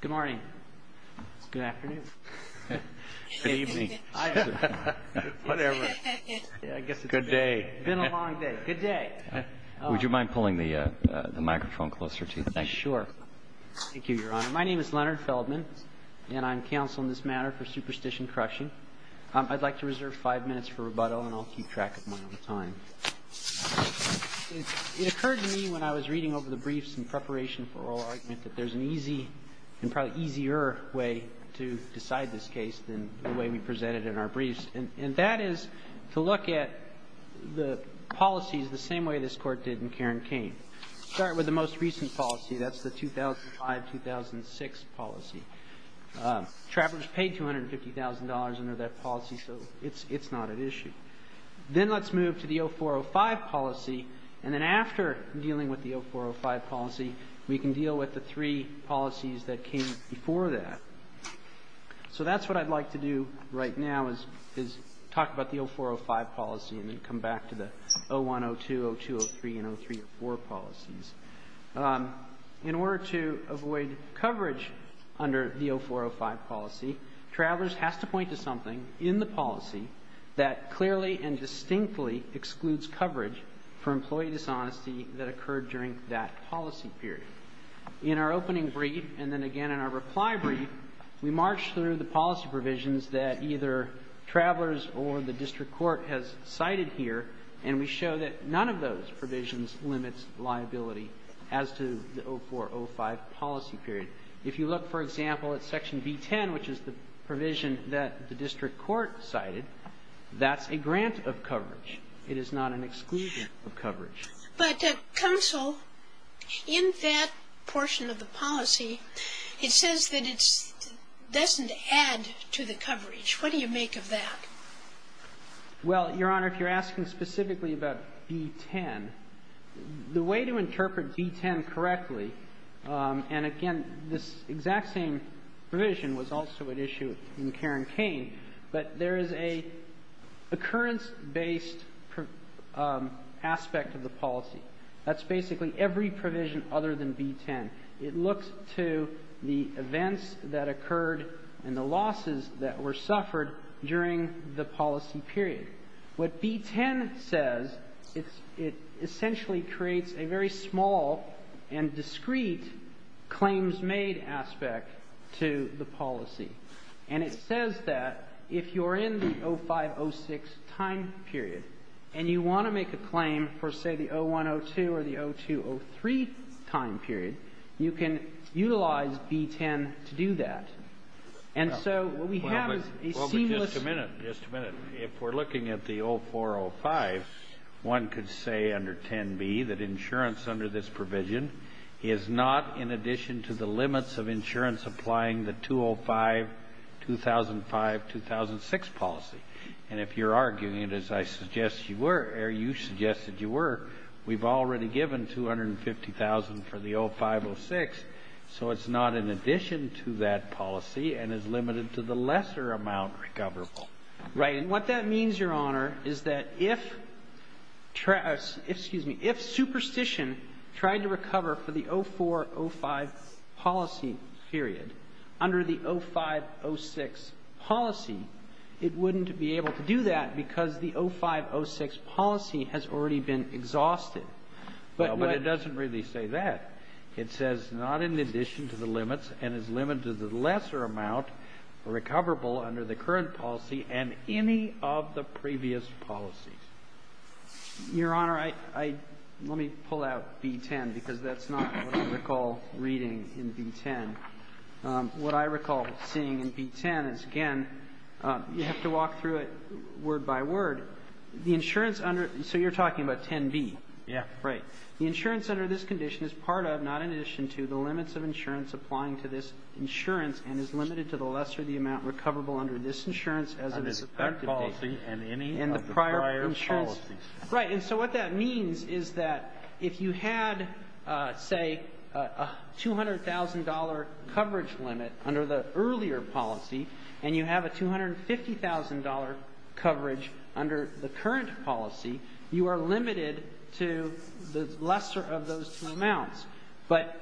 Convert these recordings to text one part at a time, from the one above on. Good morning. Good afternoon. Good evening. Good day. Been a long day. Good day. Would you mind pulling the microphone closer to you? Sure. Thank you, Your Honor. My name is Leonard Feldman and I'm counsel in this matter for Superstition Crushing. I'd like to reserve five minutes for rebuttal and I'll keep track of my own time. It occurred to me when I was reading over the briefs in preparation for oral argument that there's an easy and probably easier way to decide this case than the way we presented in our briefs. And that is to look at the policies the same way this Court did in Cairn-Cain. Start with the most recent policy. That's the 2005-2006 policy. Travelers paid $250,000 under that policy, so it's not an issue. Then let's move to the 04-05 policy. And then after dealing with the 04-05 policy, we can deal with the three policies that came before that. So that's what I'd like to do right now is talk about the 04-05 policy and then come back to the 01-02, 02-03, and 03-04 policies. In order to avoid coverage under the 04-05 policy, Travelers has to point to something in the policy that clearly and distinctly excludes coverage for employee dishonesty that occurred during that policy period. In our opening brief, and then again in our reply brief, we march through the policy provisions that either Travelers or the District Court has cited here, and we show that none of those provisions limits liability as to the 04-05 policy period. If you look, for example, at Section B-10, which is the provision that the District Court cited, that's a grant of coverage, it is not an exclusion of coverage. Ginsburg. But, Counsel, in that portion of the policy, it says that it doesn't add to the coverage. What do you make of that? Well, Your Honor, if you're asking specifically about B-10, the way to interpret B-10 correctly, and again, this exact same provision was also at issue in Karen and the other aspect of the policy. That's basically every provision other than B-10. It looks to the events that occurred and the losses that were suffered during the policy period. What B-10 says, it essentially creates a very small and discreet claims made aspect to the policy. And it says that if you're in the 05-06 time period and you want to make a claim for, say, the 01-02 or the 02-03 time period, you can utilize B-10 to do that. And so what we have is a seamless ---- Well, but just a minute, just a minute. If we're looking at the 04-05, one could say under 10b that insurance under this provision is not in addition to the limits of insurance applying the 205-2005-2006 policy. And if you're arguing, as I suggest you were, or you suggested you were, we've already given 250,000 for the 05-06, so it's not in addition to that policy and is limited to the lesser amount recoverable. Right. And what that means, Your Honor, is that if ---- excuse me. If superstition tried to recover for the 04-05 policy period under the 05-06 policy, it wouldn't be able to do that because the 05-06 policy has already been exhausted. But what ---- No, but it doesn't really say that. It says not in addition to the limits and is limited to the lesser amount recoverable under the current policy and any of the previous policies. Your Honor, I ---- let me pull out B-10 because that's not what I recall reading in B-10. What I recall seeing in B-10 is, again, you have to walk through it word by word. The insurance under ---- so you're talking about 10b. Yes. Right. The insurance under this condition is part of, not in addition to, the limits of insurance applying to this insurance and is limited to the lesser of the amount recoverable under this insurance as of this effective date. Under that policy and any of the prior policies. Right. And so what that means is that if you had, say, a $200,000 coverage limit under the earlier policy and you have a $250,000 coverage under the current policy, you are limited to the lesser of those two amounts. But,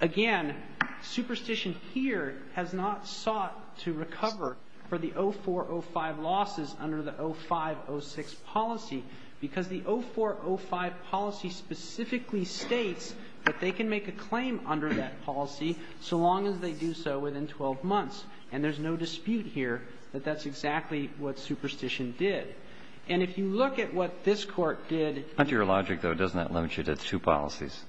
again, superstition here has not sought to recover for the 04-05 losses under the policy because the 04-05 policy specifically states that they can make a claim under that policy so long as they do so within 12 months. And there's no dispute here that that's exactly what superstition did. And if you look at what this Court did ---- Under your logic, though, doesn't that limit you to two policies?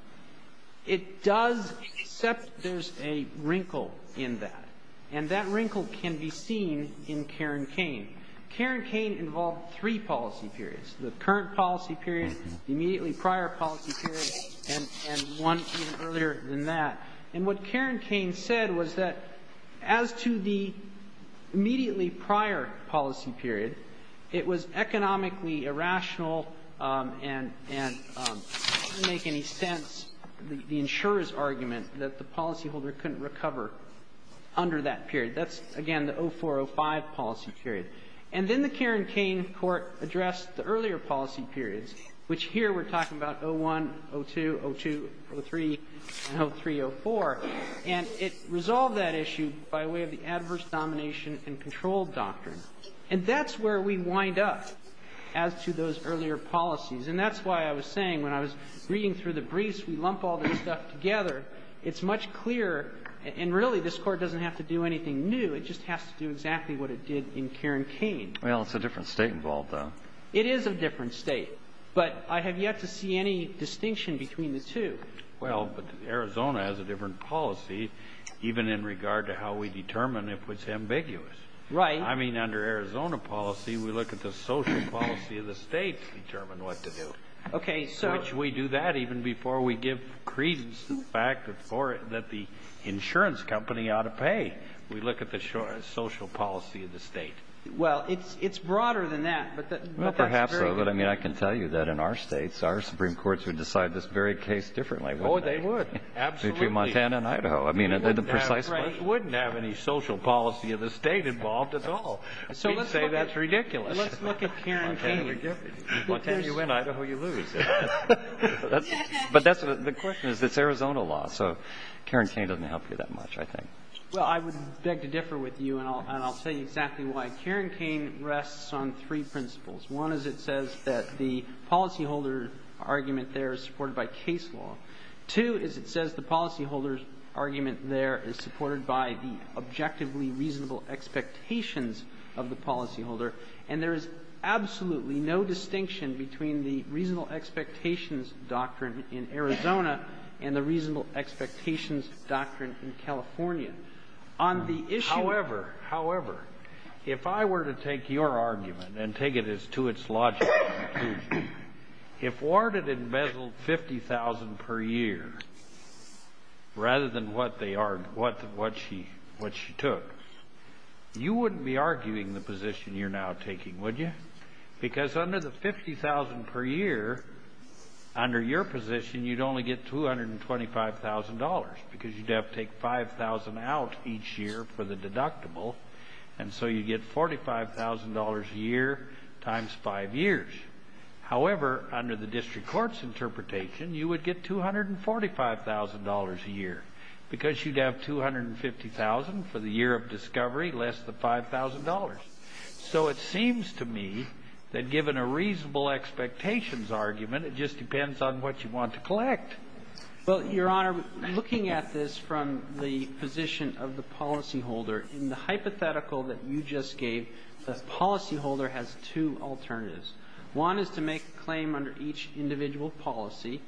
It does, except there's a wrinkle in that. And that wrinkle can be seen in Karen Kane. Karen Kane involved three policy periods. The current policy period, the immediately prior policy period, and one even earlier than that. And what Karen Kane said was that as to the immediately prior policy period, it was economically irrational and didn't make any sense, the insurer's argument, that the policyholder couldn't recover under that period. That's, again, the 04-05 policy period. And then the Karen Kane Court addressed the earlier policy periods, which here we're talking about 01, 02, 02, 03, and 03-04. And it resolved that issue by way of the adverse domination and control doctrine. And that's where we wind up as to those earlier policies. And that's why I was saying when I was reading through the briefs, we lump all this stuff together, it's much clearer. And, really, this Court doesn't have to do anything new. It just has to do exactly what it did in Karen Kane. Well, it's a different state involved, though. It is a different state. But I have yet to see any distinction between the two. Well, but Arizona has a different policy, even in regard to how we determine if it's ambiguous. Right. I mean, under Arizona policy, we look at the social policy of the state to determine what to do. Okay. Which we do that even before we give credence to the fact that the insurance company ought to pay. We look at the social policy of the state. Well, it's broader than that. Well, perhaps so. But, I mean, I can tell you that in our states, our Supreme Courts would decide this very case differently, wouldn't they? Oh, they would. Absolutely. Between Montana and Idaho. I mean, precisely. They wouldn't have any social policy of the state involved at all. So let's say that's ridiculous. Let's look at Karen Kane. Montana, you win. Idaho, you lose. But the question is, it's Arizona law. So Karen Kane doesn't help you that much, I think. Well, I would beg to differ with you, and I'll tell you exactly why. Karen Kane rests on three principles. One is it says that the policyholder argument there is supported by case law. Two is it says the policyholder's argument there is supported by the objectively reasonable expectations of the policyholder. And there is absolutely no distinction between the reasonable expectations doctrine in Arizona and the reasonable expectations doctrine in California. However, however, if I were to take your argument and take it as to its logic, if Ward had embezzled $50,000 per year rather than what she took, you wouldn't be arguing the position you're now taking, would you? Because under the $50,000 per year, under your position, you'd only get $225,000, because you'd have to take $5,000 out each year for the deductible. And so you'd get $45,000 a year times five years. However, under the district court's interpretation, you would get $245,000 a year, because you'd have $250,000 for the year of discovery less than $5,000. So it seems to me that given a reasonable expectations argument, it just depends on what you want to collect. Well, Your Honor, looking at this from the position of the policyholder, in the hypothetical that you just gave, the policyholder has two alternatives. One is to make a claim under each individual policy,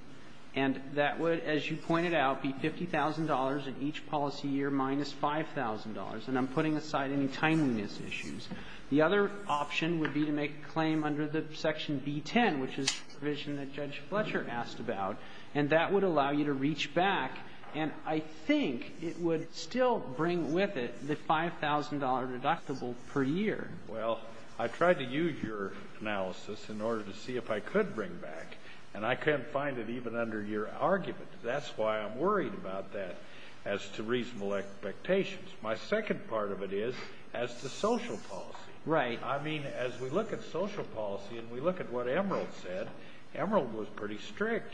and that would, as you pointed out, be $50,000 in each policy year minus $5,000. And I'm putting aside any timeliness issues. The other option would be to make a claim under the Section B-10, which is a provision that Judge Fletcher asked about, and that would allow you to reach back. And I think it would still bring with it the $5,000 deductible per year. Well, I tried to use your analysis in order to see if I could bring back, and I couldn't find it even under your argument. That's why I'm worried about that as to reasonable expectations. My second part of it is as to social policy. Right. I mean, as we look at social policy and we look at what Emerald said, Emerald was pretty strict.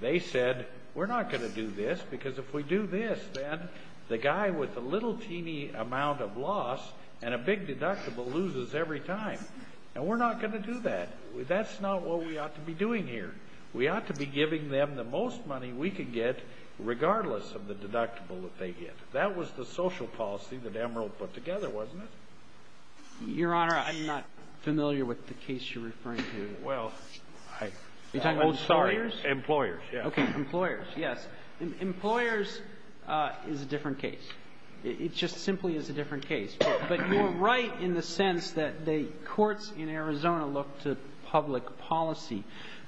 They said, we're not going to do this because if we do this, then the guy with the little teeny amount of loss and a big deductible loses every time. And we're not going to do that. That's not what we ought to be doing here. We ought to be giving them the most money we could get regardless of the deductible that they get. That was the social policy that Emerald put together, wasn't it? Your Honor, I'm not familiar with the case you're referring to. Well, I'm sorry. Employers, yes. Okay, employers, yes. Employers is a different case. It just simply is a different case. But you're right in the sense that the courts in Arizona look to public policy.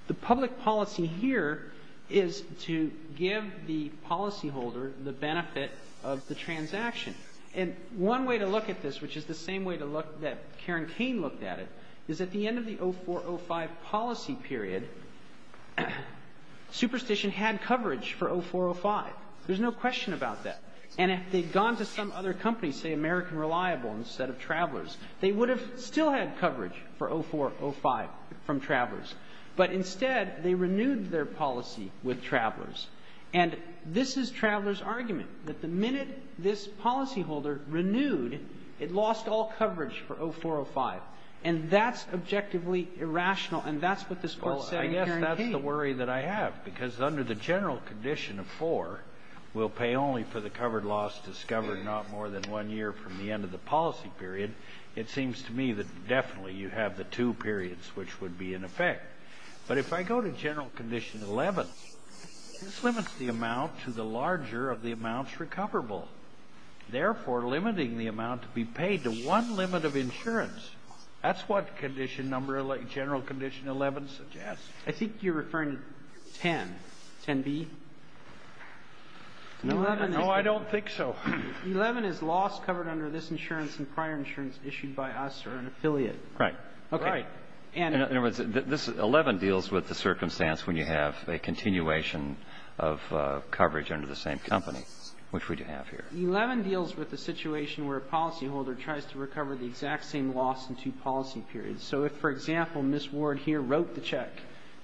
The public policy here is to give the policyholder the benefit of the transaction. And one way to look at this, which is the same way that Karen Kane looked at it, is at the end of the 0405 policy period, Superstition had coverage for 0405. There's no question about that. And if they'd gone to some other company, say American Reliable instead of Travelers, they would have still had coverage for 0405 from Travelers. But instead, they renewed their policy with Travelers. And this is Travelers' argument, that the minute this policyholder renewed, it lost all coverage for 0405. And that's objectively irrational. And that's what this Court said in Karen Kane. Well, I guess that's the worry that I have, because under the general condition of four, we'll pay only for the covered loss discovered not more than one year from the end of the policy period, it seems to me that definitely you have the two periods which would be in effect. But if I go to General Condition 11, this limits the amount to the larger of the amounts recoverable, therefore limiting the amount to be paid to one limit of insurance. That's what General Condition 11 suggests. I think you're referring to 10. 10b? No, I don't think so. 11 is loss covered under this insurance and prior insurance issued by us or an affiliate. Right. Right. In other words, 11 deals with the circumstance when you have a continuation of coverage under the same company, which we do have here. 11 deals with the situation where a policyholder tries to recover the exact same loss in two policy periods. So if, for example, Ms. Ward here wrote the check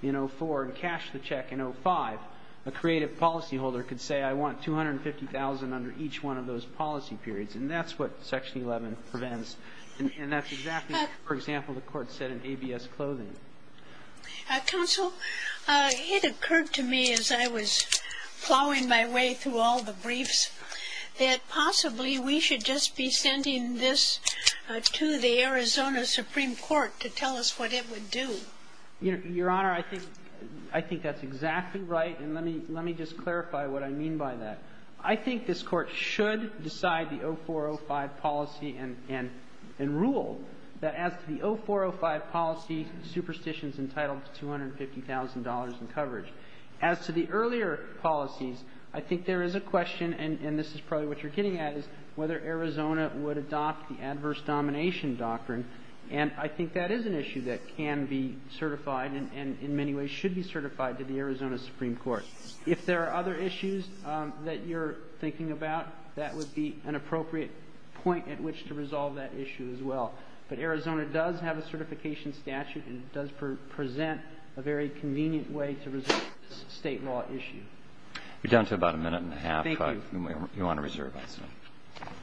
in 04 and cashed the check in 05, a creative policyholder could say I want $250,000 under each one of those policy periods. And that's what Section 11 prevents. And that's exactly, for example, the Court said in ABS Clothing. Counsel, it occurred to me as I was plowing my way through all the briefs that possibly we should just be sending this to the Arizona Supreme Court to tell us what it would do. Your Honor, I think that's exactly right. And let me just clarify what I mean by that. I think this Court should decide the 0405 policy and rule that as to the 0405 policy, superstition is entitled to $250,000 in coverage. As to the earlier policies, I think there is a question, and this is probably what you're getting at, is whether Arizona would adopt the adverse domination doctrine. And I think that is an issue that can be certified and in many ways should be certified to the Arizona Supreme Court. If there are other issues that you're thinking about, that would be an appropriate point at which to resolve that issue as well. But Arizona does have a certification statute, and it does present a very convenient way to resolve this state law issue. You're down to about a minute and a half. Thank you. But you want to reserve it. All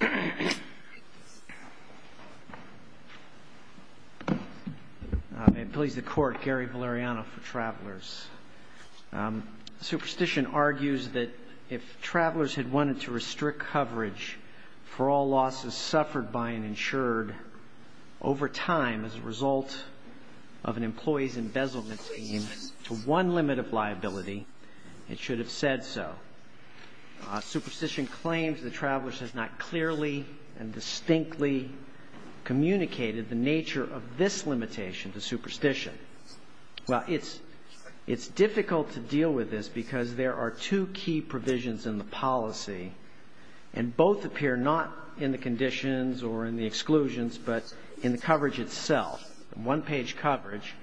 right. May it please the Court, Gary Valeriano for Travelers. Superstition argues that if travelers had wanted to restrict coverage for all losses suffered by an insured over time as a result of an employee's embezzlement scheme to one limit of liability, it should have said so. Superstition claims that travelers have not clearly and distinctly communicated the nature of this limitation to superstition. Well, it's difficult to deal with this because there are two key provisions in the policy, and both appear not in the conditions or in the exclusions, but in the coverage itself, one-page coverage,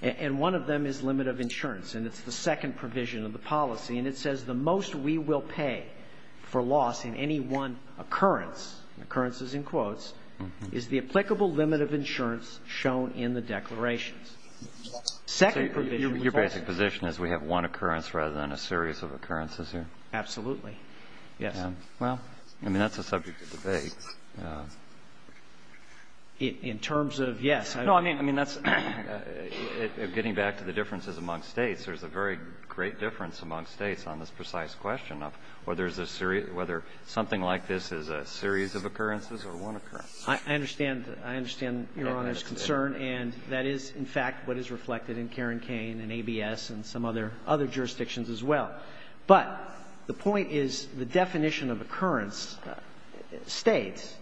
and one of them is limit of insurance. And it's the second provision of the policy, and it says the most we will pay for loss in any one occurrence, occurrences in quotes, is the applicable limit of insurance shown in the declarations. So your basic position is we have one occurrence rather than a series of occurrences here? Absolutely, yes. Well, I mean, that's a subject of debate. In terms of, yes. No, I mean, that's getting back to the differences among States. There's a very great difference among States on this precise question of whether something like this is a series of occurrences or one occurrence. I understand. I understand Your Honor's concern. And that is, in fact, what is reflected in Karen Kane and ABS and some other jurisdictions as well. But the point is the definition of occurrence states,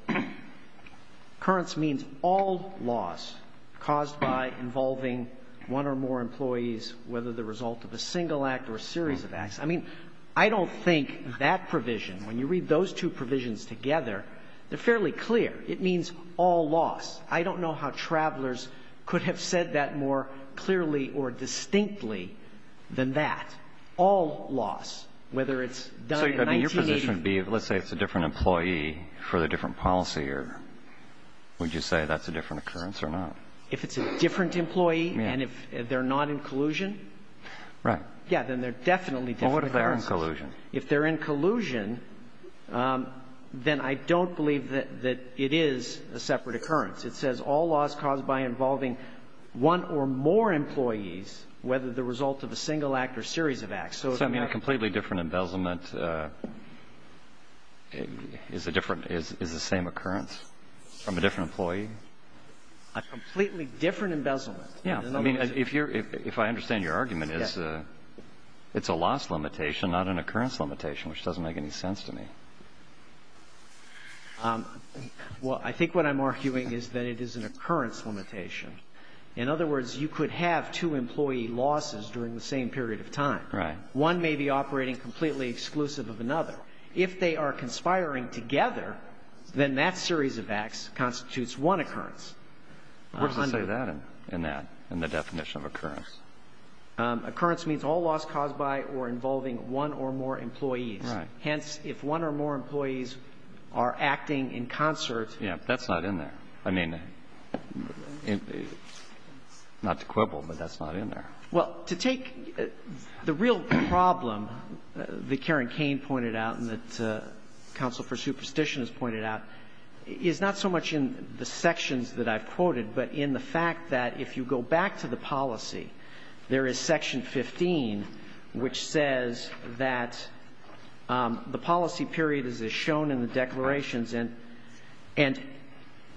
occurrence means all loss caused by involving one or more employees, whether the result of a single act or a series of acts. I mean, I don't think that provision, when you read those two provisions together, they're fairly clear. It means all loss. I don't know how travelers could have said that more clearly or distinctly than that. All loss, whether it's done in 1980. So your position would be, let's say it's a different employee for the different policy, or would you say that's a different occurrence or not? If it's a different employee and if they're not in collusion? Right. Yeah, then they're definitely different. But what if they're in collusion? If they're in collusion, then I don't believe that it is a separate occurrence. It says all loss caused by involving one or more employees, whether the result of a single act or a series of acts. So it's a completely different embezzlement is a different – is the same occurrence from a different employee? A completely different embezzlement. Yeah. I mean, if you're – if I understand your argument, it's a loss limitation, not an occurrence limitation, which doesn't make any sense to me. Well, I think what I'm arguing is that it is an occurrence limitation. In other words, you could have two employee losses during the same period of time. Right. One may be operating completely exclusive of another. If they are conspiring together, then that series of acts constitutes one occurrence. Where does it say that in that, in the definition of occurrence? Occurrence means all loss caused by or involving one or more employees. Right. Hence, if one or more employees are acting in concert – Yeah, that's not in there. I mean, not to quibble, but that's not in there. Well, to take the real problem that Karen Kane pointed out and that counsel for superstition has pointed out is not so much in the sections that I've quoted, but in the fact that if you go back to the policy, there is section 15, which says that the policy period is as shown in the declarations. And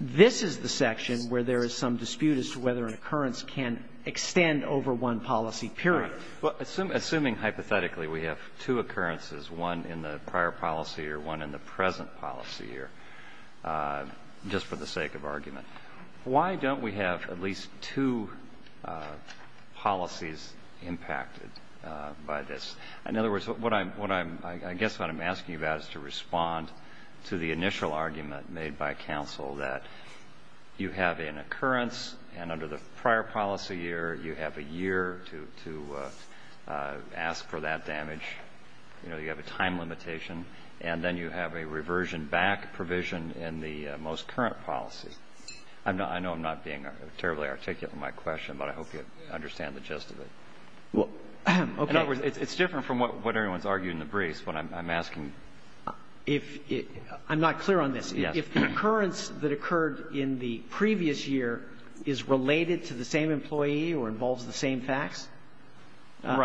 this is the section where there is some dispute as to whether an occurrence can extend over one policy period. Right. Well, assuming hypothetically we have two occurrences, one in the prior policy year, one in the present policy year, just for the sake of argument, why don't we have at least two policies impacted by this? In other words, what I'm – I guess what I'm asking you about is to respond to the initial argument made by counsel that you have an occurrence and under the prior policy year, you have a year to ask for that damage, you know, you have a time limitation, and then you have a reversion back provision in the most current policy. I know I'm not being terribly articulate in my question, but I hope you understand the gist of it. Well, okay. In other words, it's different from what everyone's argued in the briefs, but I'm asking. If – I'm not clear on this. Yes. If the occurrence that occurred in the previous year is related to the same employee or involves the same facts,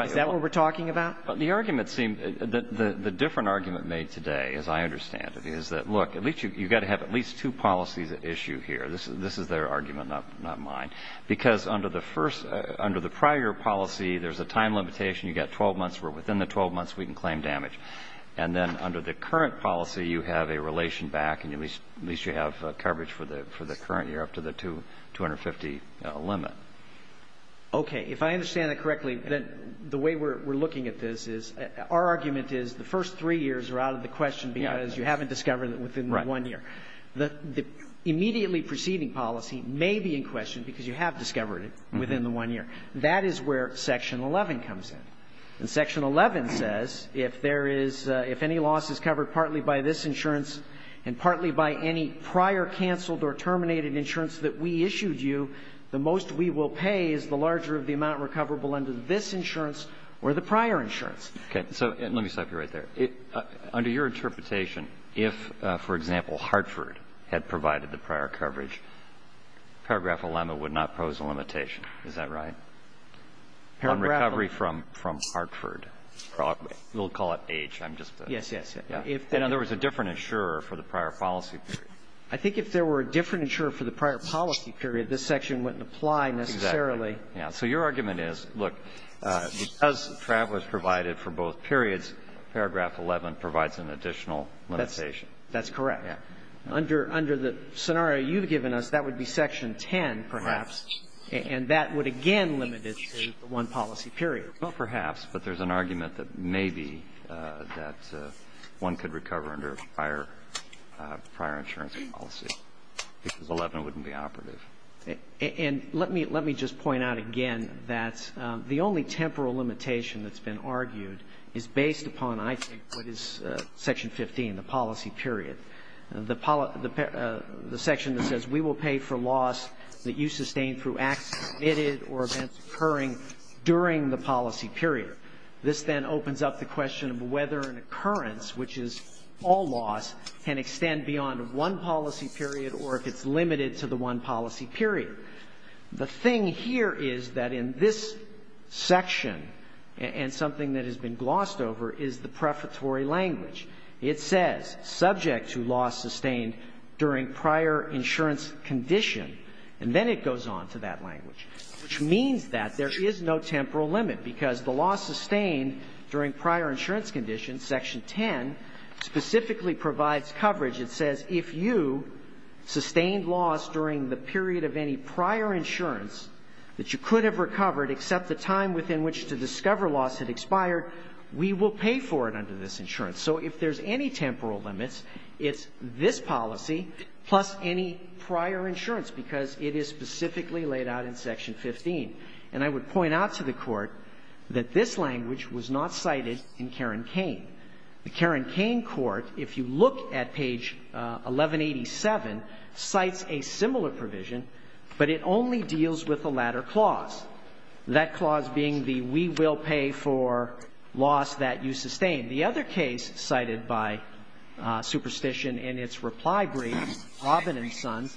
is that what we're talking about? The argument seems – the different argument made today, as I understand it, is that, look, at least you've got to have at least two policies at issue here. This is their argument, not mine. Because under the first – under the prior policy, there's a time limitation. You've got 12 months. We're within the 12 months. We can claim damage. And then under the current policy, you have a relation back, and at least you have coverage for the – for the current year up to the 250 limit. Okay. If I understand it correctly, then the way we're looking at this is – our argument is the first three years are out of the question because you haven't discovered it within the one year. Right. The immediately preceding policy may be in question because you have discovered it within the one year. That is where Section 11 comes in. And Section 11 says if there is – if any loss is covered partly by this insurance and partly by any prior canceled or terminated insurance that we issued you, the most we will pay is the larger of the amount recoverable under this insurance or the prior insurance. Okay. So – and let me stop you right there. Under your interpretation, if, for example, Hartford had provided the prior coverage, Paragraph 11 would not pose a limitation. Is that right? Paragraph 11. Recovery from Hartford. We'll call it age. I'm just – Yes, yes. Yeah. If there was a different insurer for the prior policy period. I think if there were a different insurer for the prior policy period, this section wouldn't apply necessarily. Yeah. So your argument is, look, because Travelers provided for both periods, Paragraph 11 provides an additional limitation. That's correct. Under the scenario you've given us, that would be Section 10, perhaps, and that would again limit it to one policy period. Well, perhaps. But there's an argument that maybe that one could recover under a prior – prior insurance policy because 11 wouldn't be operative. And let me – let me just point out again that the only temporal limitation that's been argued is based upon, I think, what is Section 15, the policy period. The – the section that says we will pay for loss that you sustain through acts committed or events occurring during the policy period. This then opens up the question of whether an occurrence, which is all loss, can extend beyond one policy period or if it's limited to the one policy period. The thing here is that in this section, and something that has been glossed over, is the prefatory language. It says, subject to loss sustained during prior insurance condition, and then it goes on to that language, which means that there is no temporal limit because the loss sustained during prior insurance condition, Section 10, specifically provides coverage. It says if you sustained loss during the period of any prior insurance that you could have recovered except the time within which to discover loss had expired, we will pay for it under this insurance. So if there's any temporal limits, it's this policy plus any prior insurance because it is specifically laid out in Section 15. And I would point out to the Court that this language was not cited in Karen Kane. The Karen Kane Court, if you look at page 1187, cites a similar provision, but it only deals with the latter clause, that clause being the we will pay for loss that you sustain. The other case cited by Superstition in its reply brief, Robben and Sons,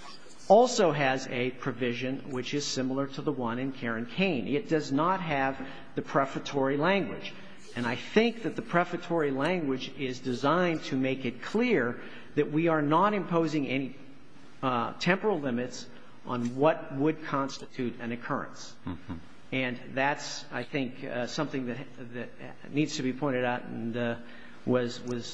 also has a provision which is similar to the one in Karen Kane. It does not have the prefatory language. And I think that the prefatory language is designed to make it clear that we are not imposing any temporal limits on what would constitute an occurrence. And that's, I think, something that needs to be pointed out and was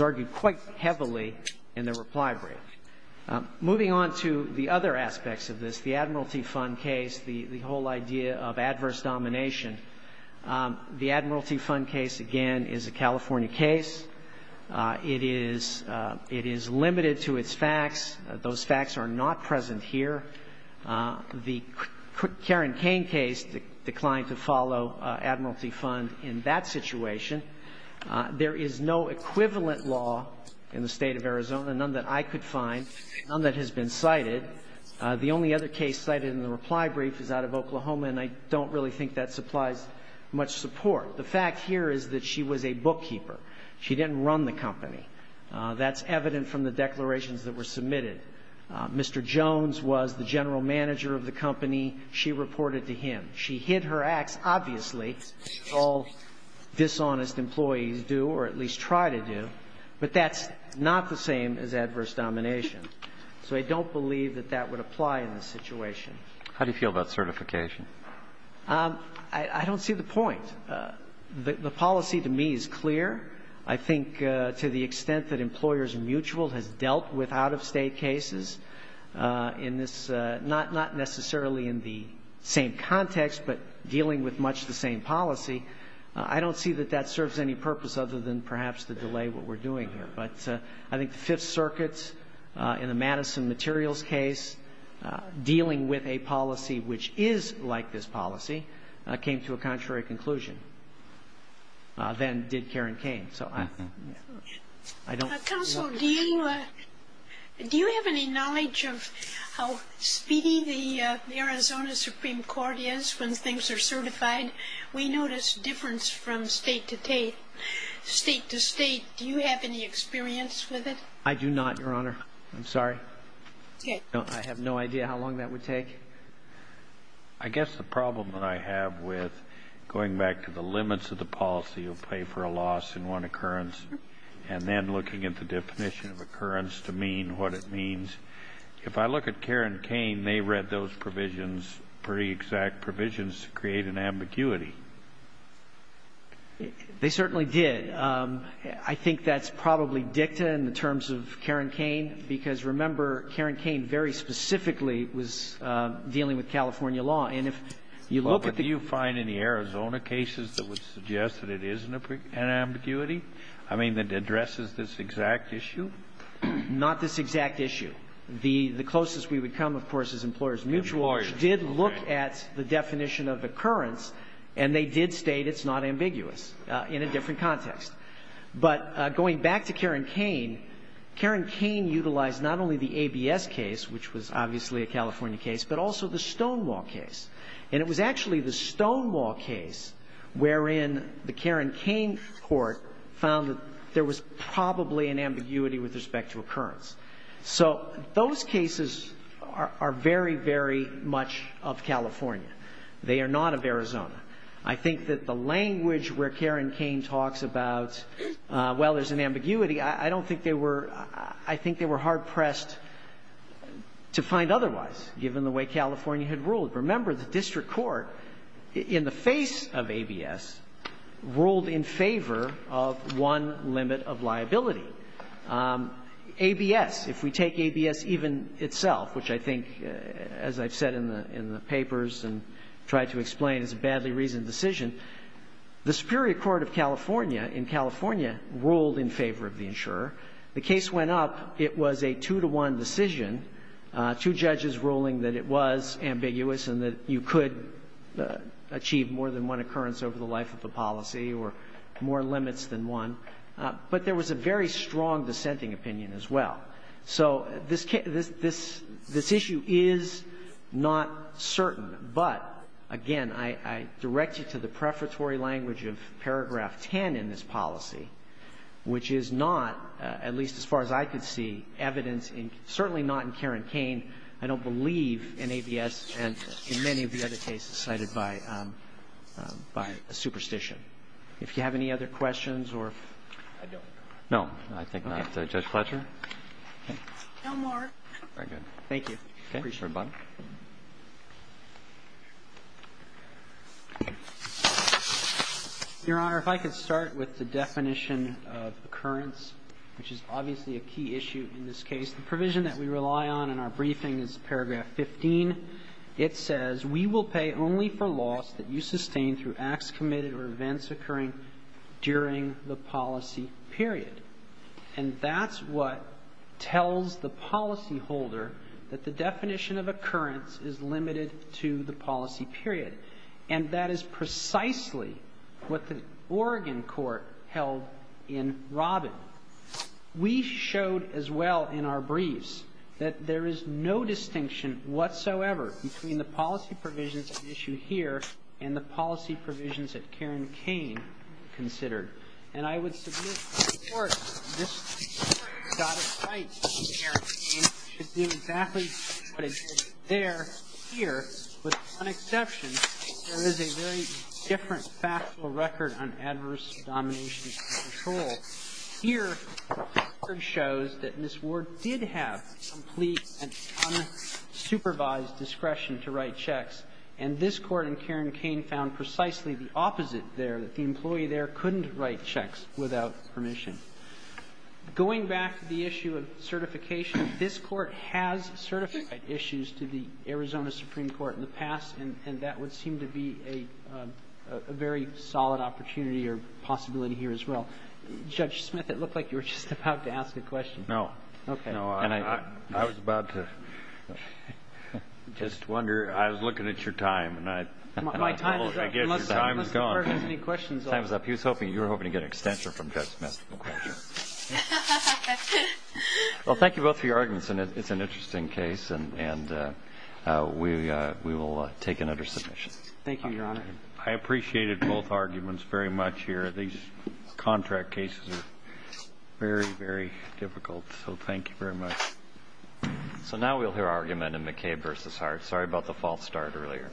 argued quite heavily in the reply brief. Moving on to the other aspects of this, the Admiralty Fund case, the whole idea of adverse domination, the Admiralty Fund case, again, is a California case. It is limited to its facts. Those facts are not present here. The Karen Kane case declined to follow Admiralty Fund in that situation. There is no equivalent law in the State of Arizona, none that I could find, none that has been cited. The only other case cited in the reply brief is out of Oklahoma, and I don't really think that supplies much support. The fact here is that she was a bookkeeper. She didn't run the company. That's evident from the declarations that were submitted. Mr. Jones was the general manager of the company. She reported to him. She hid her acts, obviously, as all dishonest employees do or at least try to do, but that's not the same as adverse domination. So I don't believe that that would apply in this situation. Roberts. How do you feel about certification? I don't see the point. The policy to me is clear. I think to the extent that Employers Mutual has dealt with out-of-state cases in this not necessarily in the same context, but dealing with much the same policy, I don't see that that serves any purpose other than perhaps to delay what we're doing here. But I think the Fifth Circuit in the Madison Materials case, dealing with a policy which is like this policy, came to a contrary conclusion than did Karen Kane. So I don't know. Counsel, do you have any knowledge of how speedy the Arizona Supreme Court is when things are certified? We notice difference from state to state. Do you have any experience with it? I do not, Your Honor. I'm sorry. I have no idea how long that would take. I guess the problem that I have with going back to the limits of the policy of pay for a loss in one occurrence and then looking at the definition of occurrence to mean what it means, if I look at Karen Kane, they read those provisions, pretty exact provisions, to create an ambiguity. They certainly did. I think that's probably dicta in the terms of Karen Kane, because, remember, Karen Kane very specifically was dealing with California law. And if you look at the But do you find any Arizona cases that would suggest that it is an ambiguity? I mean, that addresses this exact issue? Not this exact issue. The closest we would come, of course, is Employers Mutual, which did look at the definition of occurrence, and they did state it's not ambiguous in a different context. But going back to Karen Kane, Karen Kane utilized not only the ABS case, which was obviously a California case, but also the Stonewall case. And it was actually the Stonewall case wherein the Karen Kane court found that there was probably an ambiguity with respect to occurrence. So those cases are very, very much of California. They are not of Arizona. I think that the language where Karen Kane talks about, well, there's an ambiguity, I don't think they were, I think they were hard pressed to find otherwise, given the way California had ruled. Remember, the district court, in the face of ABS, ruled in favor of one limit of liability. ABS, if we take ABS even itself, which I think, as I've said in the papers and tried to explain, is a badly reasoned decision, the Superior Court of California in California ruled in favor of the insurer. The case went up. It was a two-to-one decision, two judges ruling that it was ambiguous and that you could achieve more than one occurrence over the life of a policy or more limits than one. But there was a very strong dissenting opinion as well. So this issue is not certain. But, again, I direct you to the prefatory language of paragraph 10 in this policy, which is not, at least as far as I could see, evidence in, certainly not in Karen and in many of the other cases cited by a superstition. If you have any other questions or if I don't. Roberts. No. I think not. Judge Fletcher. No more. Very good. Thank you. Appreciate it, Bobby. Your Honor, if I could start with the definition of occurrence, which is obviously a key issue in this case. The provision that we rely on in our briefing is paragraph 15. It says, we will pay only for loss that you sustain through acts committed or events occurring during the policy period. And that's what tells the policyholder that the definition of occurrence is limited to the policy period. And that is precisely what the Oregon court held in Robin. We showed as well in our briefs that there is no distinction whatsoever between the policy provisions at issue here and the policy provisions that Karen Cain considered. And I would submit to the Court that this Court has got it right that Karen Cain should do exactly what it did there, here, with one exception. There is a very different factual record on adverse domination and control. Here, it shows that Ms. Ward did have complete and unsupervised discretion to write checks. And this Court in Karen Cain found precisely the opposite there, that the employee there couldn't write checks without permission. Going back to the issue of certification, this Court has certified issues to the Arizona Supreme Court in the past, and that would seem to be a very solid opportunity or possibility here as well. Judge Smith, it looked like you were just about to ask a question. No. Okay. No, I was about to just wonder. I was looking at your time, and I get your time is gone. My time is up, unless the Court has any questions. Time is up. He was hoping, you were hoping to get an extension from Judge Smith. Well, thank you both for your arguments. And it's an interesting case. And we will take another submission. Thank you, Your Honor. I appreciated both arguments very much here. These contract cases are very, very difficult. So thank you very much. So now we'll hear argument in McCabe v. Hart. Sorry about the false start earlier. Thank you.